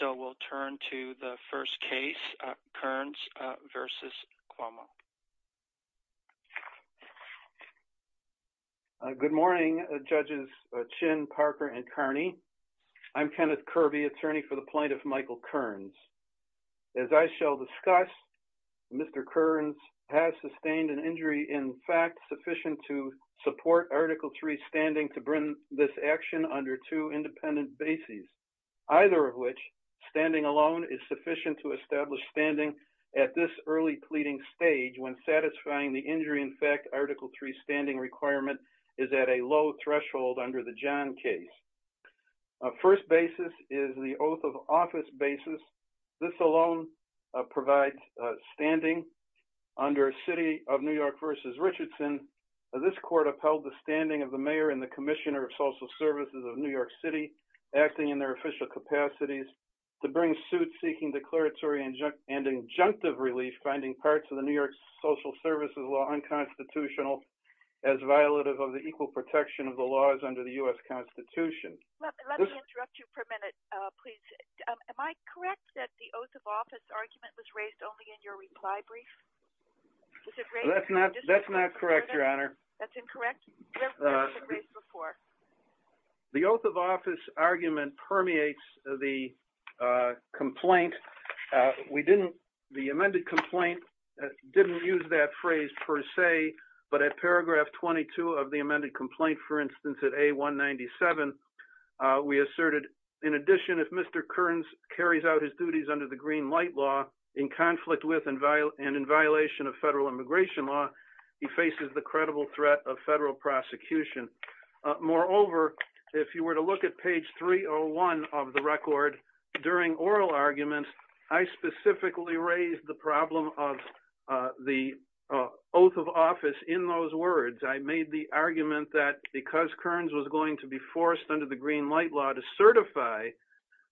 So we'll turn to the first case, Kearns v. Cuomo. Good morning, Judges Chin, Parker, and Kearney. I'm Kenneth Kirby, attorney for the plaintiff, Michael Kearns. As I shall discuss, Mr. Kearns has sustained an injury, in fact, sufficient to support Article III's standing to bring this action under two independent bases, either of which, standing alone, is sufficient to establish standing at this early pleading stage when satisfying the injury, in fact, Article III's standing requirement is at a low threshold under the John case. First basis is the oath of office basis. This alone provides standing under City of New York v. Richardson. This court upheld the standing of the mayor and the commissioner of New York City acting in their official capacities to bring suit seeking declaratory and injunctive relief finding parts of the New York social services law unconstitutional as violative of the equal protection of the laws under the U.S. Constitution. Let me interrupt you for a minute, please. Am I correct that the oath of office argument was raised only in your reply brief? That's not correct, Your Honor. That's incorrect? The oath of office argument permeates the complaint. We didn't, the amended complaint didn't use that phrase per se, but at paragraph 22 of the amended complaint, for instance, at A197, we asserted, in addition, if Mr. Kearns carries out his duties under the green light law in conflict with and in violation of federal immigration law, he faces the credible threat of federal prosecution. Moreover, if you were to look at page 301 of the record during oral arguments, I specifically raised the problem of the oath of office in those words. I made the argument that because Kearns was going to be forced under the green light law to certify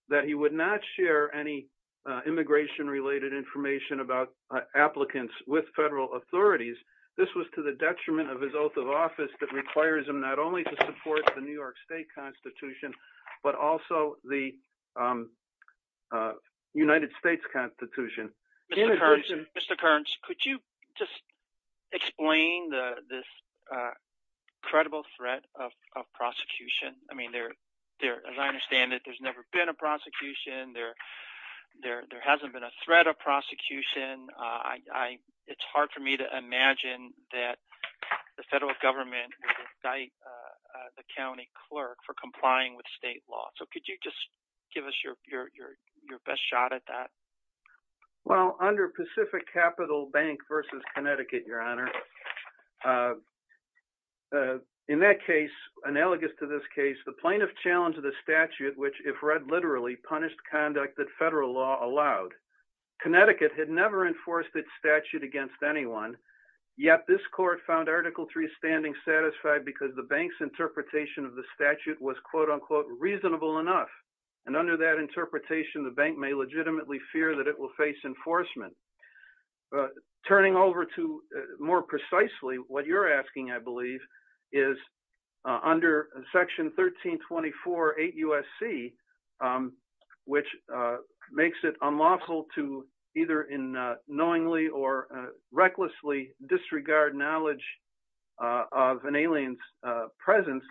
that he would not share any immigration related information about applicants with federal authorities, this was to the detriment of his oath of office that requires him not only to support the New York State Constitution, but also the United States Constitution. Mr. Kearns, could you just explain this credible threat of prosecution? I mean, as I understand it, there's never been a prosecution. There hasn't been a threat of prosecution. It's hard for me to imagine that the federal government would indict the county clerk for complying with state law. So could you just give us your best shot at that? Well, under Pacific Capital Bank v. Connecticut, Your Honor, in that case, analogous to this case, the plaintiff challenged the statute, which if never enforced its statute against anyone, yet this court found Article III standing satisfied because the bank's interpretation of the statute was quote unquote reasonable enough. And under that interpretation, the bank may legitimately fear that it will face enforcement. Turning over to more precisely, what you're asking, I believe, is under Section 1324.8 USC, which makes it unlawful to either in knowingly or recklessly disregard knowledge of an alien's presence.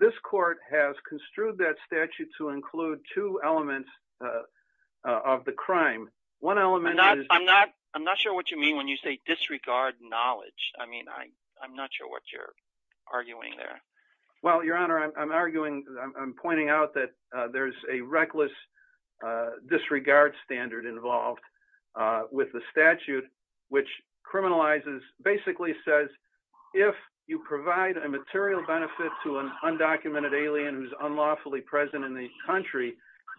This court has construed that statute to include two elements of the crime. One element is... I'm not sure what you mean when you say disregard knowledge. I mean, I'm not sure what you're arguing there. Well, Your Honor, I'm arguing, I'm pointing out that there's a reckless disregard standard involved with the statute, which criminalizes, basically says if you provide a material benefit to an undocumented alien who's unlawfully present in the country,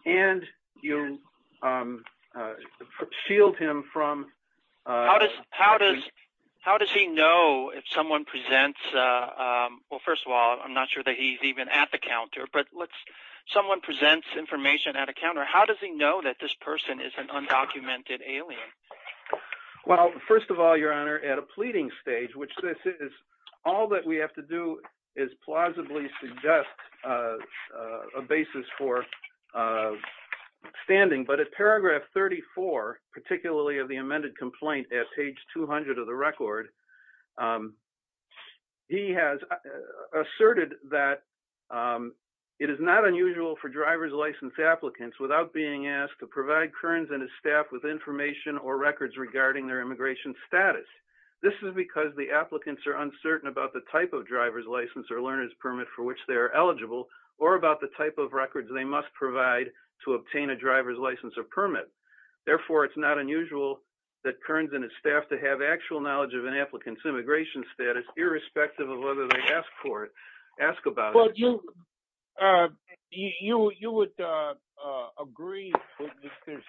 and you shield him from... I'm not sure that he's even at the counter, but let's... Someone presents information at a counter. How does he know that this person is an undocumented alien? Well, first of all, Your Honor, at a pleading stage, which this is, all that we have to do is plausibly suggest a basis for standing. But at paragraph 34, particularly of the amended complaint at page 200 of the record, he has asserted that it is not unusual for driver's license applicants without being asked to provide Kearns and his staff with information or records regarding their immigration status. This is because the applicants are uncertain about the type of driver's license or learner's permit for which they're eligible, or about the type of records they must provide to obtain a driver's license or permit. Therefore, it's not unusual that Kearns and his staff to have actual knowledge of an applicant's immigration status, irrespective of whether they ask about it. But you would agree that there's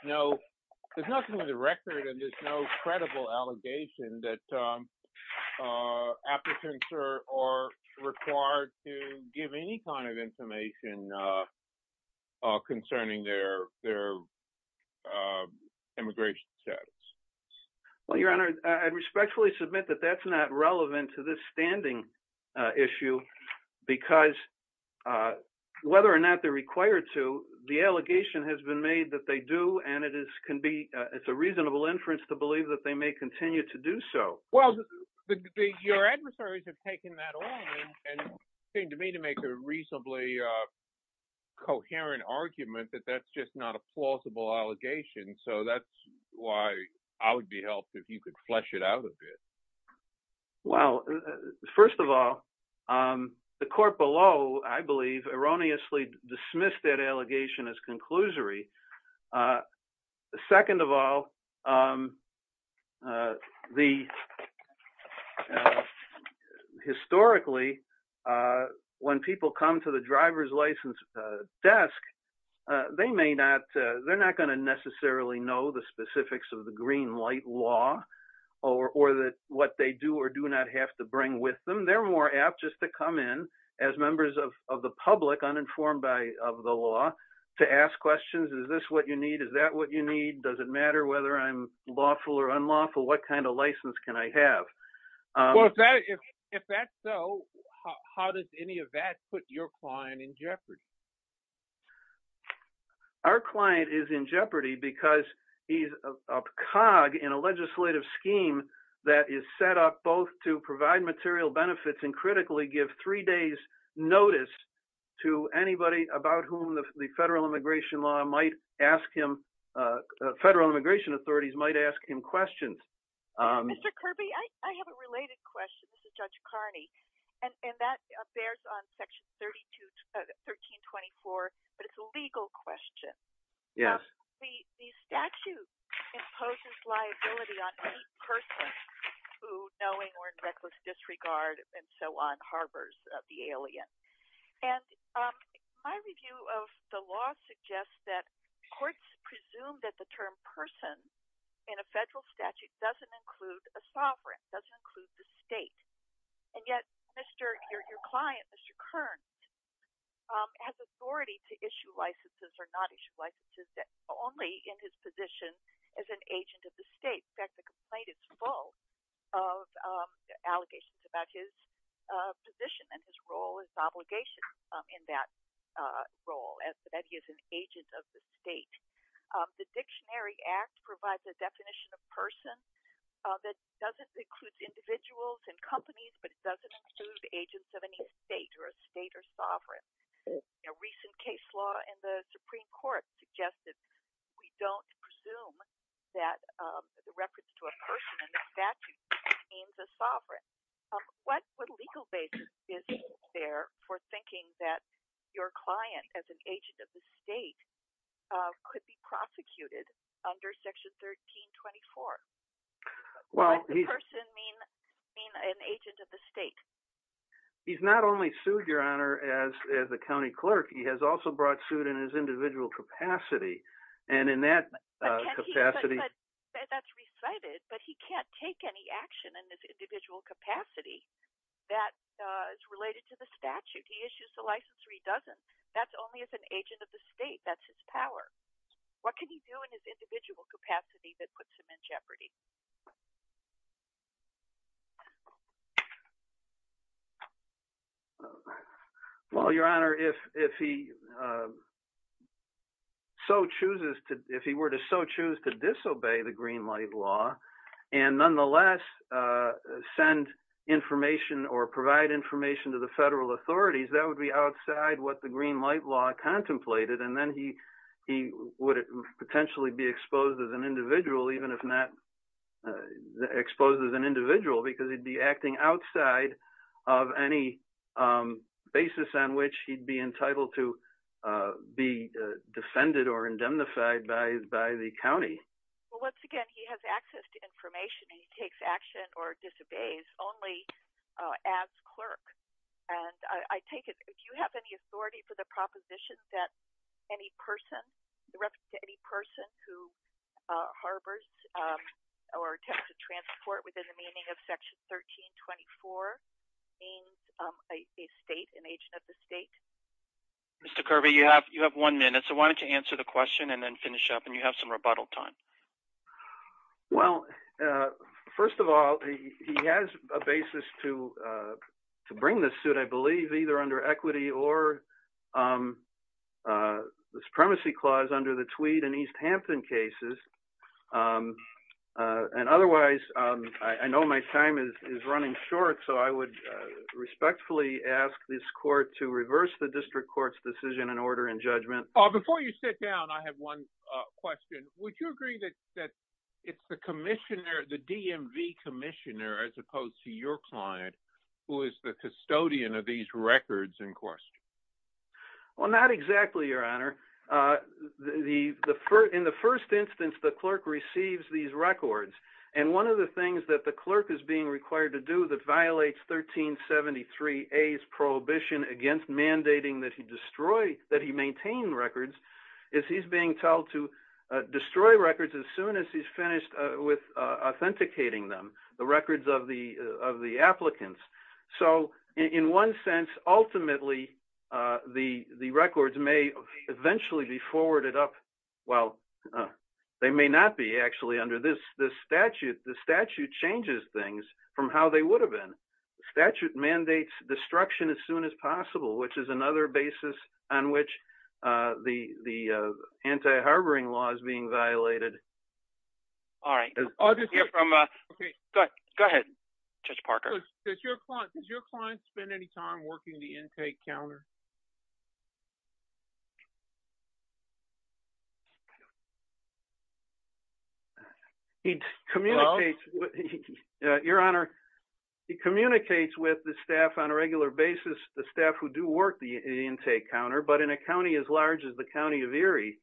nothing in the record, and there's no credible allegation that applicants are required to give any kind of information concerning their immigration status. Well, Your Honor, I respectfully submit that that's not relevant to this standing issue, because whether or not they're required to, the allegation has been made that they do, and it's a reasonable inference to believe that they may continue to do so. Well, your adversaries have taken that on, and it seemed to me to make a reasonably coherent argument that that's just not a plausible allegation. So that's why I would be helped if you could flesh it out a bit. Well, first of all, the court below, I believe, erroneously dismissed that allegation as unlawful. Historically, when people come to the driver's license desk, they're not going to necessarily know the specifics of the green light law or what they do or do not have to bring with them. They're more apt just to come in as members of the public, uninformed of the law, to ask questions. Is this what you need? Is that what you need? Does it matter whether I'm lawful or not? Well, if that's so, how does any of that put your client in jeopardy? Our client is in jeopardy because he's a cog in a legislative scheme that is set up both to provide material benefits and critically give three days' notice to anybody about whom the federal immigration law might ask him, federal immigration authorities might ask him questions. Mr. Kirby, I have a related question. This is Judge Carney, and that bears on Section 1324, but it's a legal question. The statute imposes liability on any person who, knowing or in reckless disregard and so on, harbors the alien. And my review of the law suggests that courts presume that the term person in a federal statute doesn't include a sovereign, doesn't include the state. And yet, your client, Mr. Kern, has authority to issue licenses or not issue licenses only in his position as an agent of the state. In fact, the complaint is full of allegations about his position and his role as obligation in that role, that he is an agent of the state. The Dictionary Act provides a definition of person that doesn't include individuals and companies, but it doesn't include agents of any state or a state or sovereign. A recent case law in the Supreme Court suggested we don't presume that the reference to a person in the statute means a sovereign. What legal basis is there for thinking that your client, as an agent of the state, could be prosecuted under Section 1324? What does the person mean, an agent of the state? He's not only sued, Your Honor, as a county clerk, he has also brought suit in his individual capacity. And in that capacity... That's recited, but he can't take any action in this individual capacity that is related to the statute. He issues the license or he doesn't. That's only as an agent of the state. That's his power. What can he do in his individual capacity that puts him in jeopardy? Well, Your Honor, if he so chooses to... If he were to so choose to disobey the Greenlight Law and nonetheless send information or provide information to the federal authorities, that would be outside what the Greenlight Law contemplated. And then he would potentially be exposed as an individual, even if not exposed as an individual, because he'd be acting outside of any basis on which he'd be entitled to be defended or indemnified by the county. Well, once again, he has access to information and he takes action or disobeys only as clerk. And I take it, if you have any authority for the proposition that any person, any person who harbors or attempts to transport within the meaning of Section 1324, means a state, an agent of the state? Mr. Kirby, you have one minute. So why don't you answer the question and then finish up and you have some rebuttal time. Well, first of all, he has a basis to bring this suit, I believe, either under equity or the supremacy clause under the Tweed and East Hampton cases. And otherwise, I know my time is running short, so I would respectfully ask this court to reverse the district court's decision and order in judgment. Before you sit down, I have one question. Would you agree that it's the commissioner, the DMV commissioner, as opposed to your client, who is the custodian of these records in question? Well, not exactly, Your Honor. In the first instance, the clerk receives these records. And one of the things that the clerk is being required to do that violates 1373A's prohibition against mandating that he maintain records, is he's being told to destroy records as soon as he's finished with authenticating them, the records of the applicants. So in one sense, ultimately, the records may eventually be forwarded up. Well, they may not be actually under this statute. The statute changes things from how they would have been. The statute mandates destruction as soon as possible, which is another basis on which the anti-harboring law is being violated. All right. Go ahead, Judge Parker. Does your client spend any time working the intake counter? Your Honor, he communicates with the staff on a regular basis, the staff who do work the intake counter, but in a county as large as the County of Erie,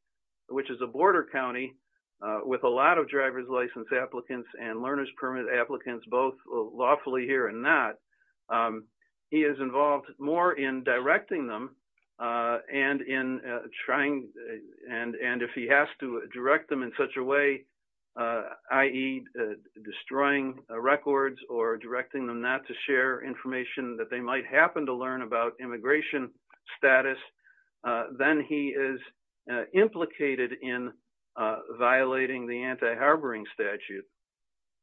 which is a border county with a lot of driver's license applicants and learner's permit applicants, both lawfully here and not, he is involved more in directing them and in trying, and if he has to direct them in such a way, i.e. destroying records or directing them not to share information that they might happen to learn about immigration status, then he is implicated in violating the anti-harboring statute.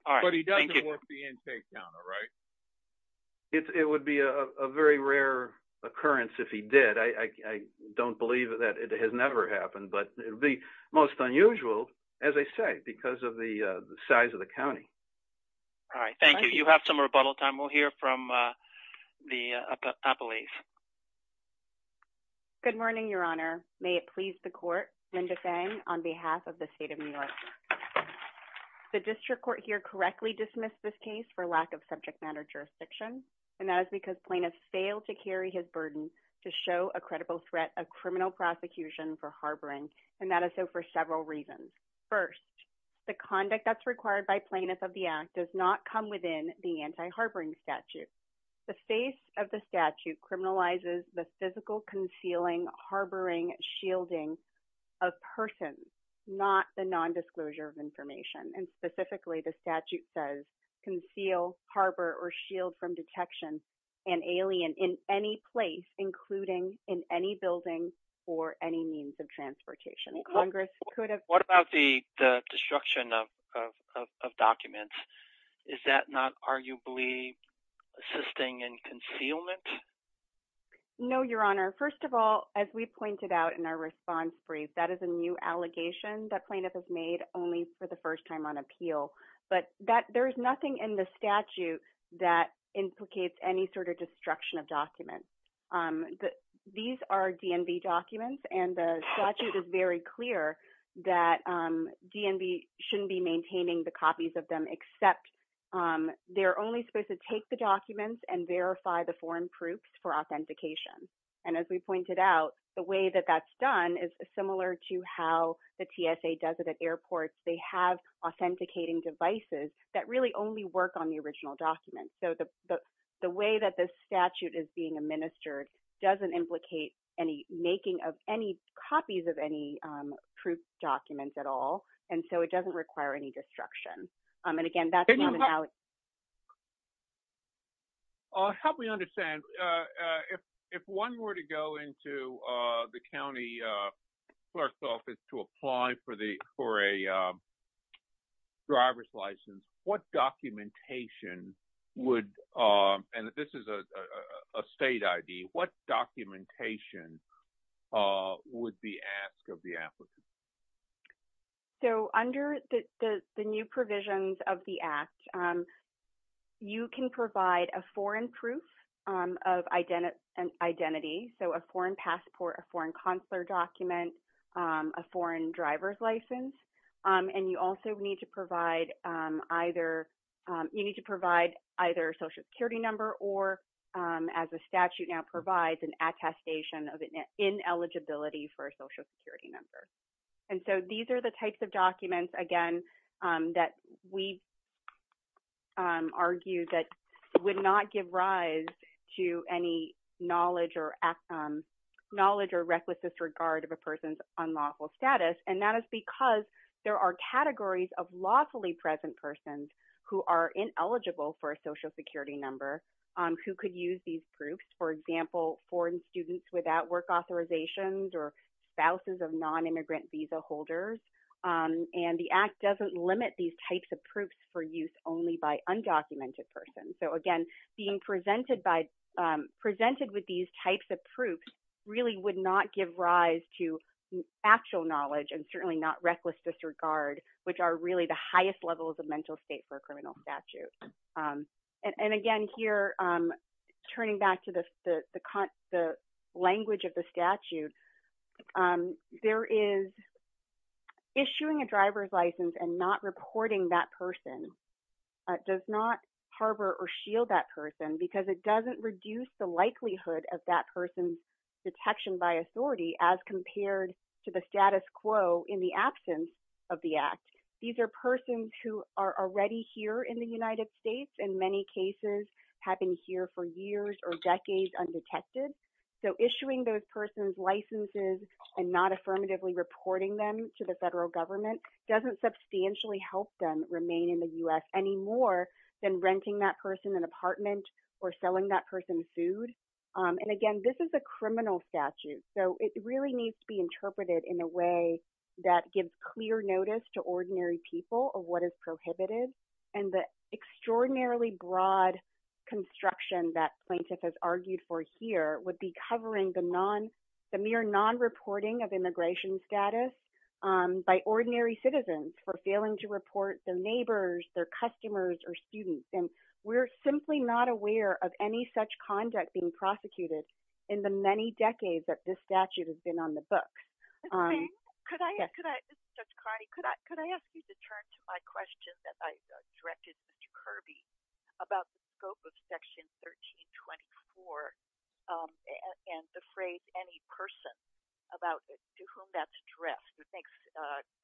But he doesn't work the intake counter, right? It would be a very rare occurrence if he did. I don't believe that it has never happened, but it would be most unusual, as I say, because of the size of the county. All right. Thank you. You have some rebuttal time. We'll hear from the appellees. Good morning, Your Honor. May it please the court, Linda Fang on behalf of the District Court here correctly dismissed this case for lack of subject matter jurisdiction, and that is because plaintiff failed to carry his burden to show a credible threat of criminal prosecution for harboring, and that is so for several reasons. First, the conduct that's required by plaintiff of the act does not come within the anti-harboring statute. The face of the statute criminalizes the physical concealing, harboring, shielding of persons, not the non- specifically the statute says, conceal, harbor, or shield from detection an alien in any place, including in any building or any means of transportation. Congress could have... What about the destruction of documents? Is that not arguably assisting in concealment? No, Your Honor. First of all, as we pointed out in our response brief, that is a new appeal, but there's nothing in the statute that implicates any sort of destruction of documents. These are DNB documents, and the statute is very clear that DNB shouldn't be maintaining the copies of them, except they're only supposed to take the documents and verify the foreign proofs for authentication, and as we pointed out, the way that that's done is similar to how the TSA does at airports. They have authenticating devices that really only work on the original document, so the way that this statute is being administered doesn't implicate any making of any copies of any proof documents at all, and so it doesn't require any destruction. And again, that's not an allegation. I'll help me understand. If one were to go into the county clerk's office to apply for a driver's license, what documentation would... And this is a state ID. What documentation would be asked of the applicant? So under the new provisions of the Act, you can provide a foreign proof of identity, so a foreign passport, a foreign consular document, a foreign driver's license, and you also need to provide either... You need to provide either a ineligibility for a Social Security number, and so these are the types of documents, again, that we argue that would not give rise to any knowledge or reckless disregard of a person's unlawful status, and that is because there are categories of lawfully present persons who are ineligible for a Social Security number who could use these proofs. For example, foreign students without work authorizations or spouses of non-immigrant visa holders, and the Act doesn't limit these types of proofs for use only by undocumented persons. So again, being presented with these types of proofs really would not give rise to actual knowledge and certainly not reckless disregard, which are really the highest levels of mental state for a criminal statute. And again, here, turning back to the language of the statute, there is issuing a driver's license and not reporting that person does not harbor or shield that person because it doesn't reduce the likelihood of that person's detection by authority as compared to the status quo in the absence of the Act. These are persons who are already here in the United States and many cases have been here for years or decades undetected, so issuing those persons' licenses and not affirmatively reporting them to the federal government doesn't substantially help them remain in the U.S. any more than renting that person an apartment or selling that person food. And again, this is a criminal statute, so it really needs to be interpreted in a way that gives clear notice to ordinary people of what is prohibited. And the extraordinarily broad construction that plaintiff has argued for here would be covering the mere non-reporting of immigration status by ordinary citizens for failing to report their neighbors, their customers, or students. And we're simply not aware of any such conduct being prosecuted in the many decades that this statute has been on the books. Ms. Bing, could I ask you to turn to my question that I directed Mr. Kirby about the scope of Section 1324 and the phrase, any person, about to whom that's addressed. It makes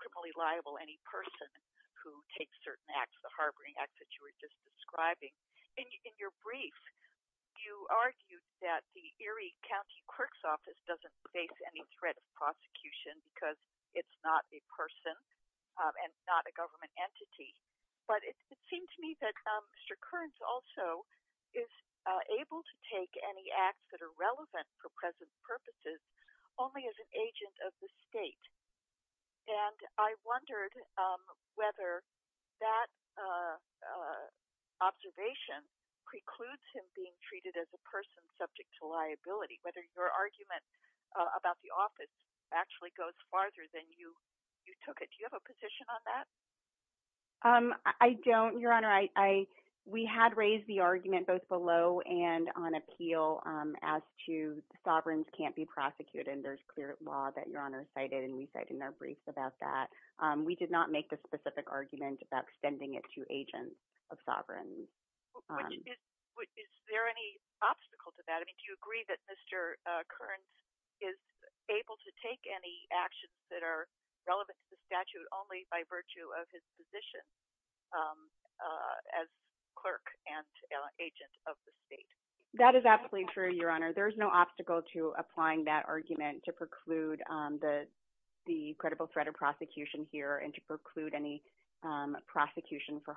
criminally liable any person who takes certain acts, the harboring act that you were just referring to. The Erie County Clerk's Office doesn't face any threat of prosecution because it's not a person and not a government entity, but it seemed to me that Mr. Kearns also is able to take any acts that are relevant for present purposes only as an agent of the state. And I wondered whether that observation precludes him being treated as a person subject to liability, whether your argument about the office actually goes farther than you took it. Do you have a position on that? I don't, Your Honor. We had raised the argument both below and on appeal as to sovereigns can't be prosecuted, and there's clear law that Your Honor cited, and we cite in our briefs about that. We did not make the specific argument about it to agents of sovereigns. Is there any obstacle to that? I mean, do you agree that Mr. Kearns is able to take any actions that are relevant to the statute only by virtue of his position as clerk and agent of the state? That is absolutely true, Your Honor. There's no obstacle to applying that argument to preclude the credible threat of prosecution here and to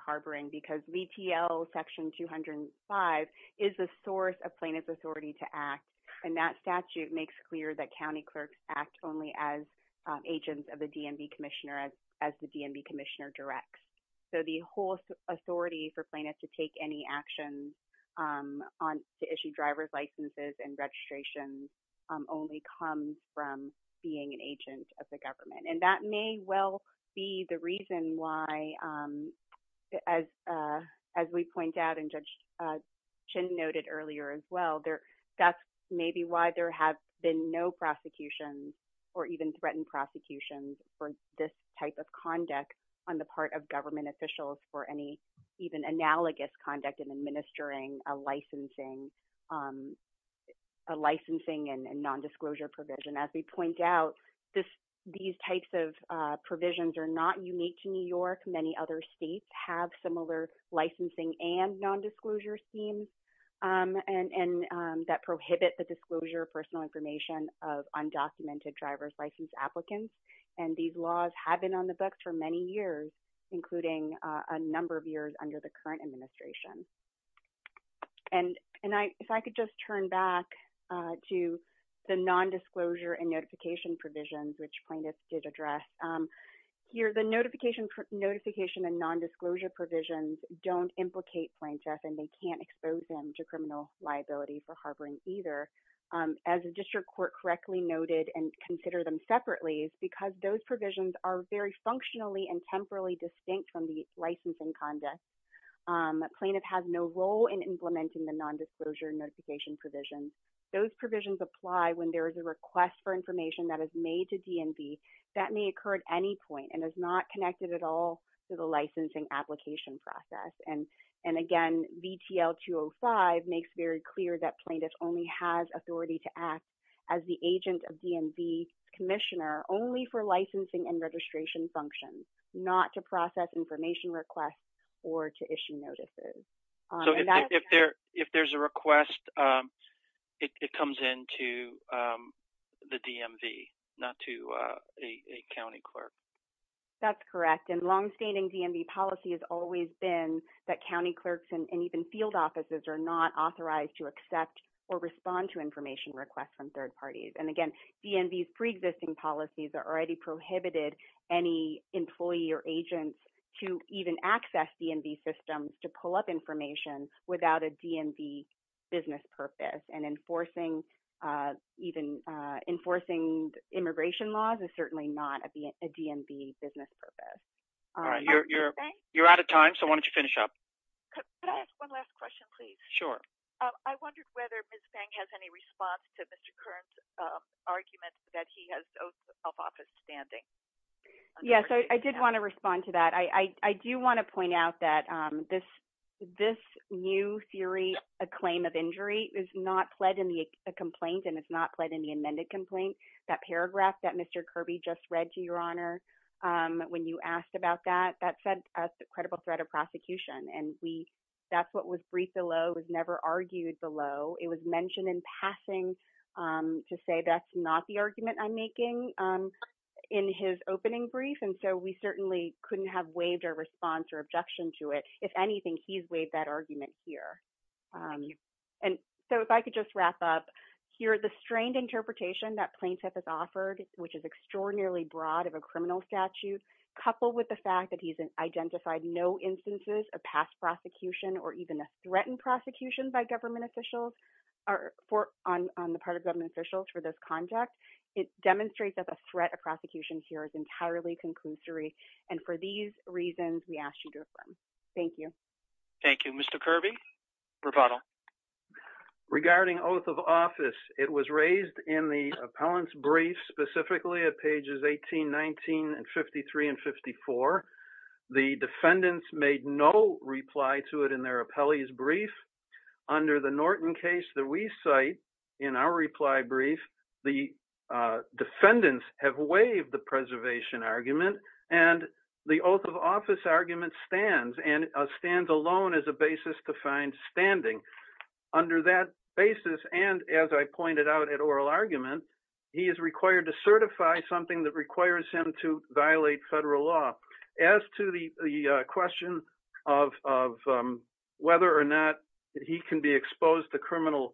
harboring because VTL section 205 is the source of plaintiff's authority to act, and that statute makes clear that county clerks act only as agents of the DMV commissioner as the DMV commissioner directs. So the whole authority for plaintiffs to take any actions to issue driver's licenses and registrations only comes from being an agent of the government. And that may well be the reason why as we point out and Judge Chin noted earlier as well, that's maybe why there have been no prosecutions or even threatened prosecutions for this type of conduct on the part of government officials for any even analogous conduct in administering a licensing and nondisclosure provision. As we point out, these types of provisions are not unique to New York. Many other states have similar licensing and nondisclosure schemes that prohibit the disclosure of personal information of undocumented driver's license applicants. And these laws have been on the books for many years, including a number of years under the current administration. And if I could just turn back to the nondisclosure and notification provisions, which plaintiffs did address. Here, the notification and nondisclosure provisions don't implicate plaintiffs and they can't expose them to criminal liability for harboring either. As the district court correctly noted and consider them separately, it's because those provisions are very functionally and temporally distinct from the licensing conduct. Plaintiffs have no role in implementing the nondisclosure notification provisions. Those provisions apply when there is a request for information that is made to DNB that may occur at any point and is not connected at all to the licensing application process. And again, VTL 205 makes very clear that plaintiffs only has authority to act as the agent of DNB commissioner only for licensing and registration functions, not to process information requests or to issue notices. So if there's a request, it comes into the DMV, not to a county clerk. That's correct. And longstanding DNB policy has always been that county clerks and even field offices are not authorized to accept or respond to information requests from third parties. And again, DNB's pre-existing policies are already prohibited any employee or agents to even access DNB systems to pull up information without a DNB business purpose and enforcing immigration laws is certainly not a DNB business purpose. You're out of time, so why don't you finish up? Can I ask one last question, please? Sure. I wondered whether Ms. Fang has any response to Mr. Kern's argument that he has oath of office standing. Yes, I did want to respond to that. I do want to point out that this new theory, a claim of injury is not pled in the complaint and it's not pled in the amended complaint. That paragraph that Mr. Kirby just read to your honor, when you asked about that, that said a credible threat of prosecution. And that's what was briefed below, was never argued below. It was mentioned in passing to say that's not the argument I'm making in his opening brief. And so we certainly couldn't have waived our response or objection to it. If anything, he's waived that argument here. And so if I could just wrap up here, the strained interpretation that plaintiff has offered, which is extraordinarily broad of a criminal statute, coupled with the fact that he's identified no instances of past prosecution or even a threatened prosecution by government officials, on the part of government officials for this conduct, it demonstrates that the threat of prosecution here is entirely conclusory. And for these reasons, we asked you to affirm. Thank you. Thank you. Mr. Kirby, rebuttal. Regarding oath of office, it was raised in the appellant's brief, specifically at pages 18, 19, and 53 and 54. The defendants made no reply to it in their appellee's brief. Under the Norton case that we cite, in our reply brief, the defendants have waived the preservation argument. And the oath of office argument stands and stands alone as a basis to find standing. Under that basis, and as I pointed out at oral argument, he is required to certify something that requires him to violate federal law. As to the question of whether or not he can be exposed to criminal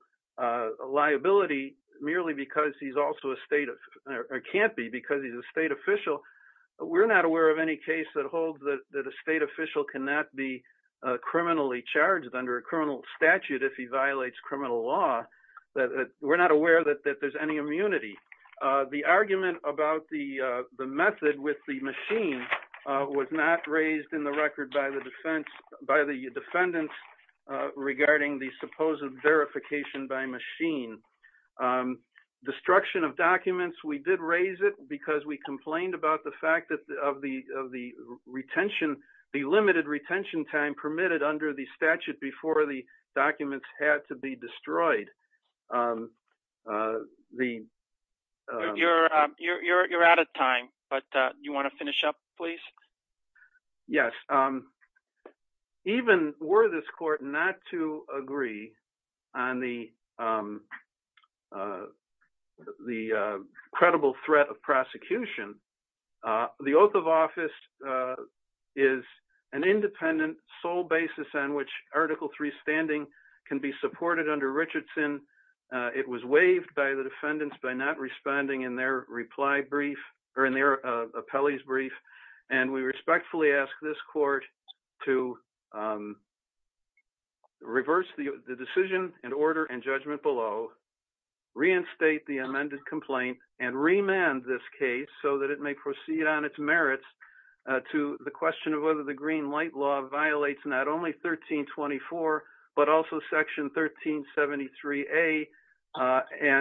liability merely because he's also a state, or can't be because he's a state official, we're not aware of any case that holds that a state official cannot be criminally charged under a criminal statute if he violates criminal law. We're not aware that there's any immunity. The argument about the method with the machine was not raised in the record by the defendants regarding the supposed verification by machine. Destruction of documents, we did raise it because we complained about the fact that of the retention, the limited retention time permitted under the statute before the the... You're out of time, but you want to finish up, please? Yes. Even were this court not to agree on the credible threat of prosecution, the oath of office is an independent sole basis on which Article III standing can be supported under Richardson. It was waived by the defendants by not responding in their reply brief, or in their appellee's brief, and we respectfully ask this court to reverse the decision and order and judgment below, reinstate the amended complaint, and remand this case so that it may proceed on its merits to the question of whether the green light law violates not only 1324, but also Section 1373A,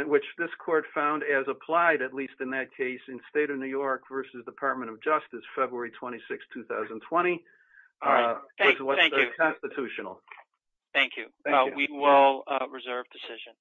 which this court found as applied, at least in that case, in State of New York versus Department of Justice, February 26, 2020, which was constitutional. Thank you. We will reserve decision.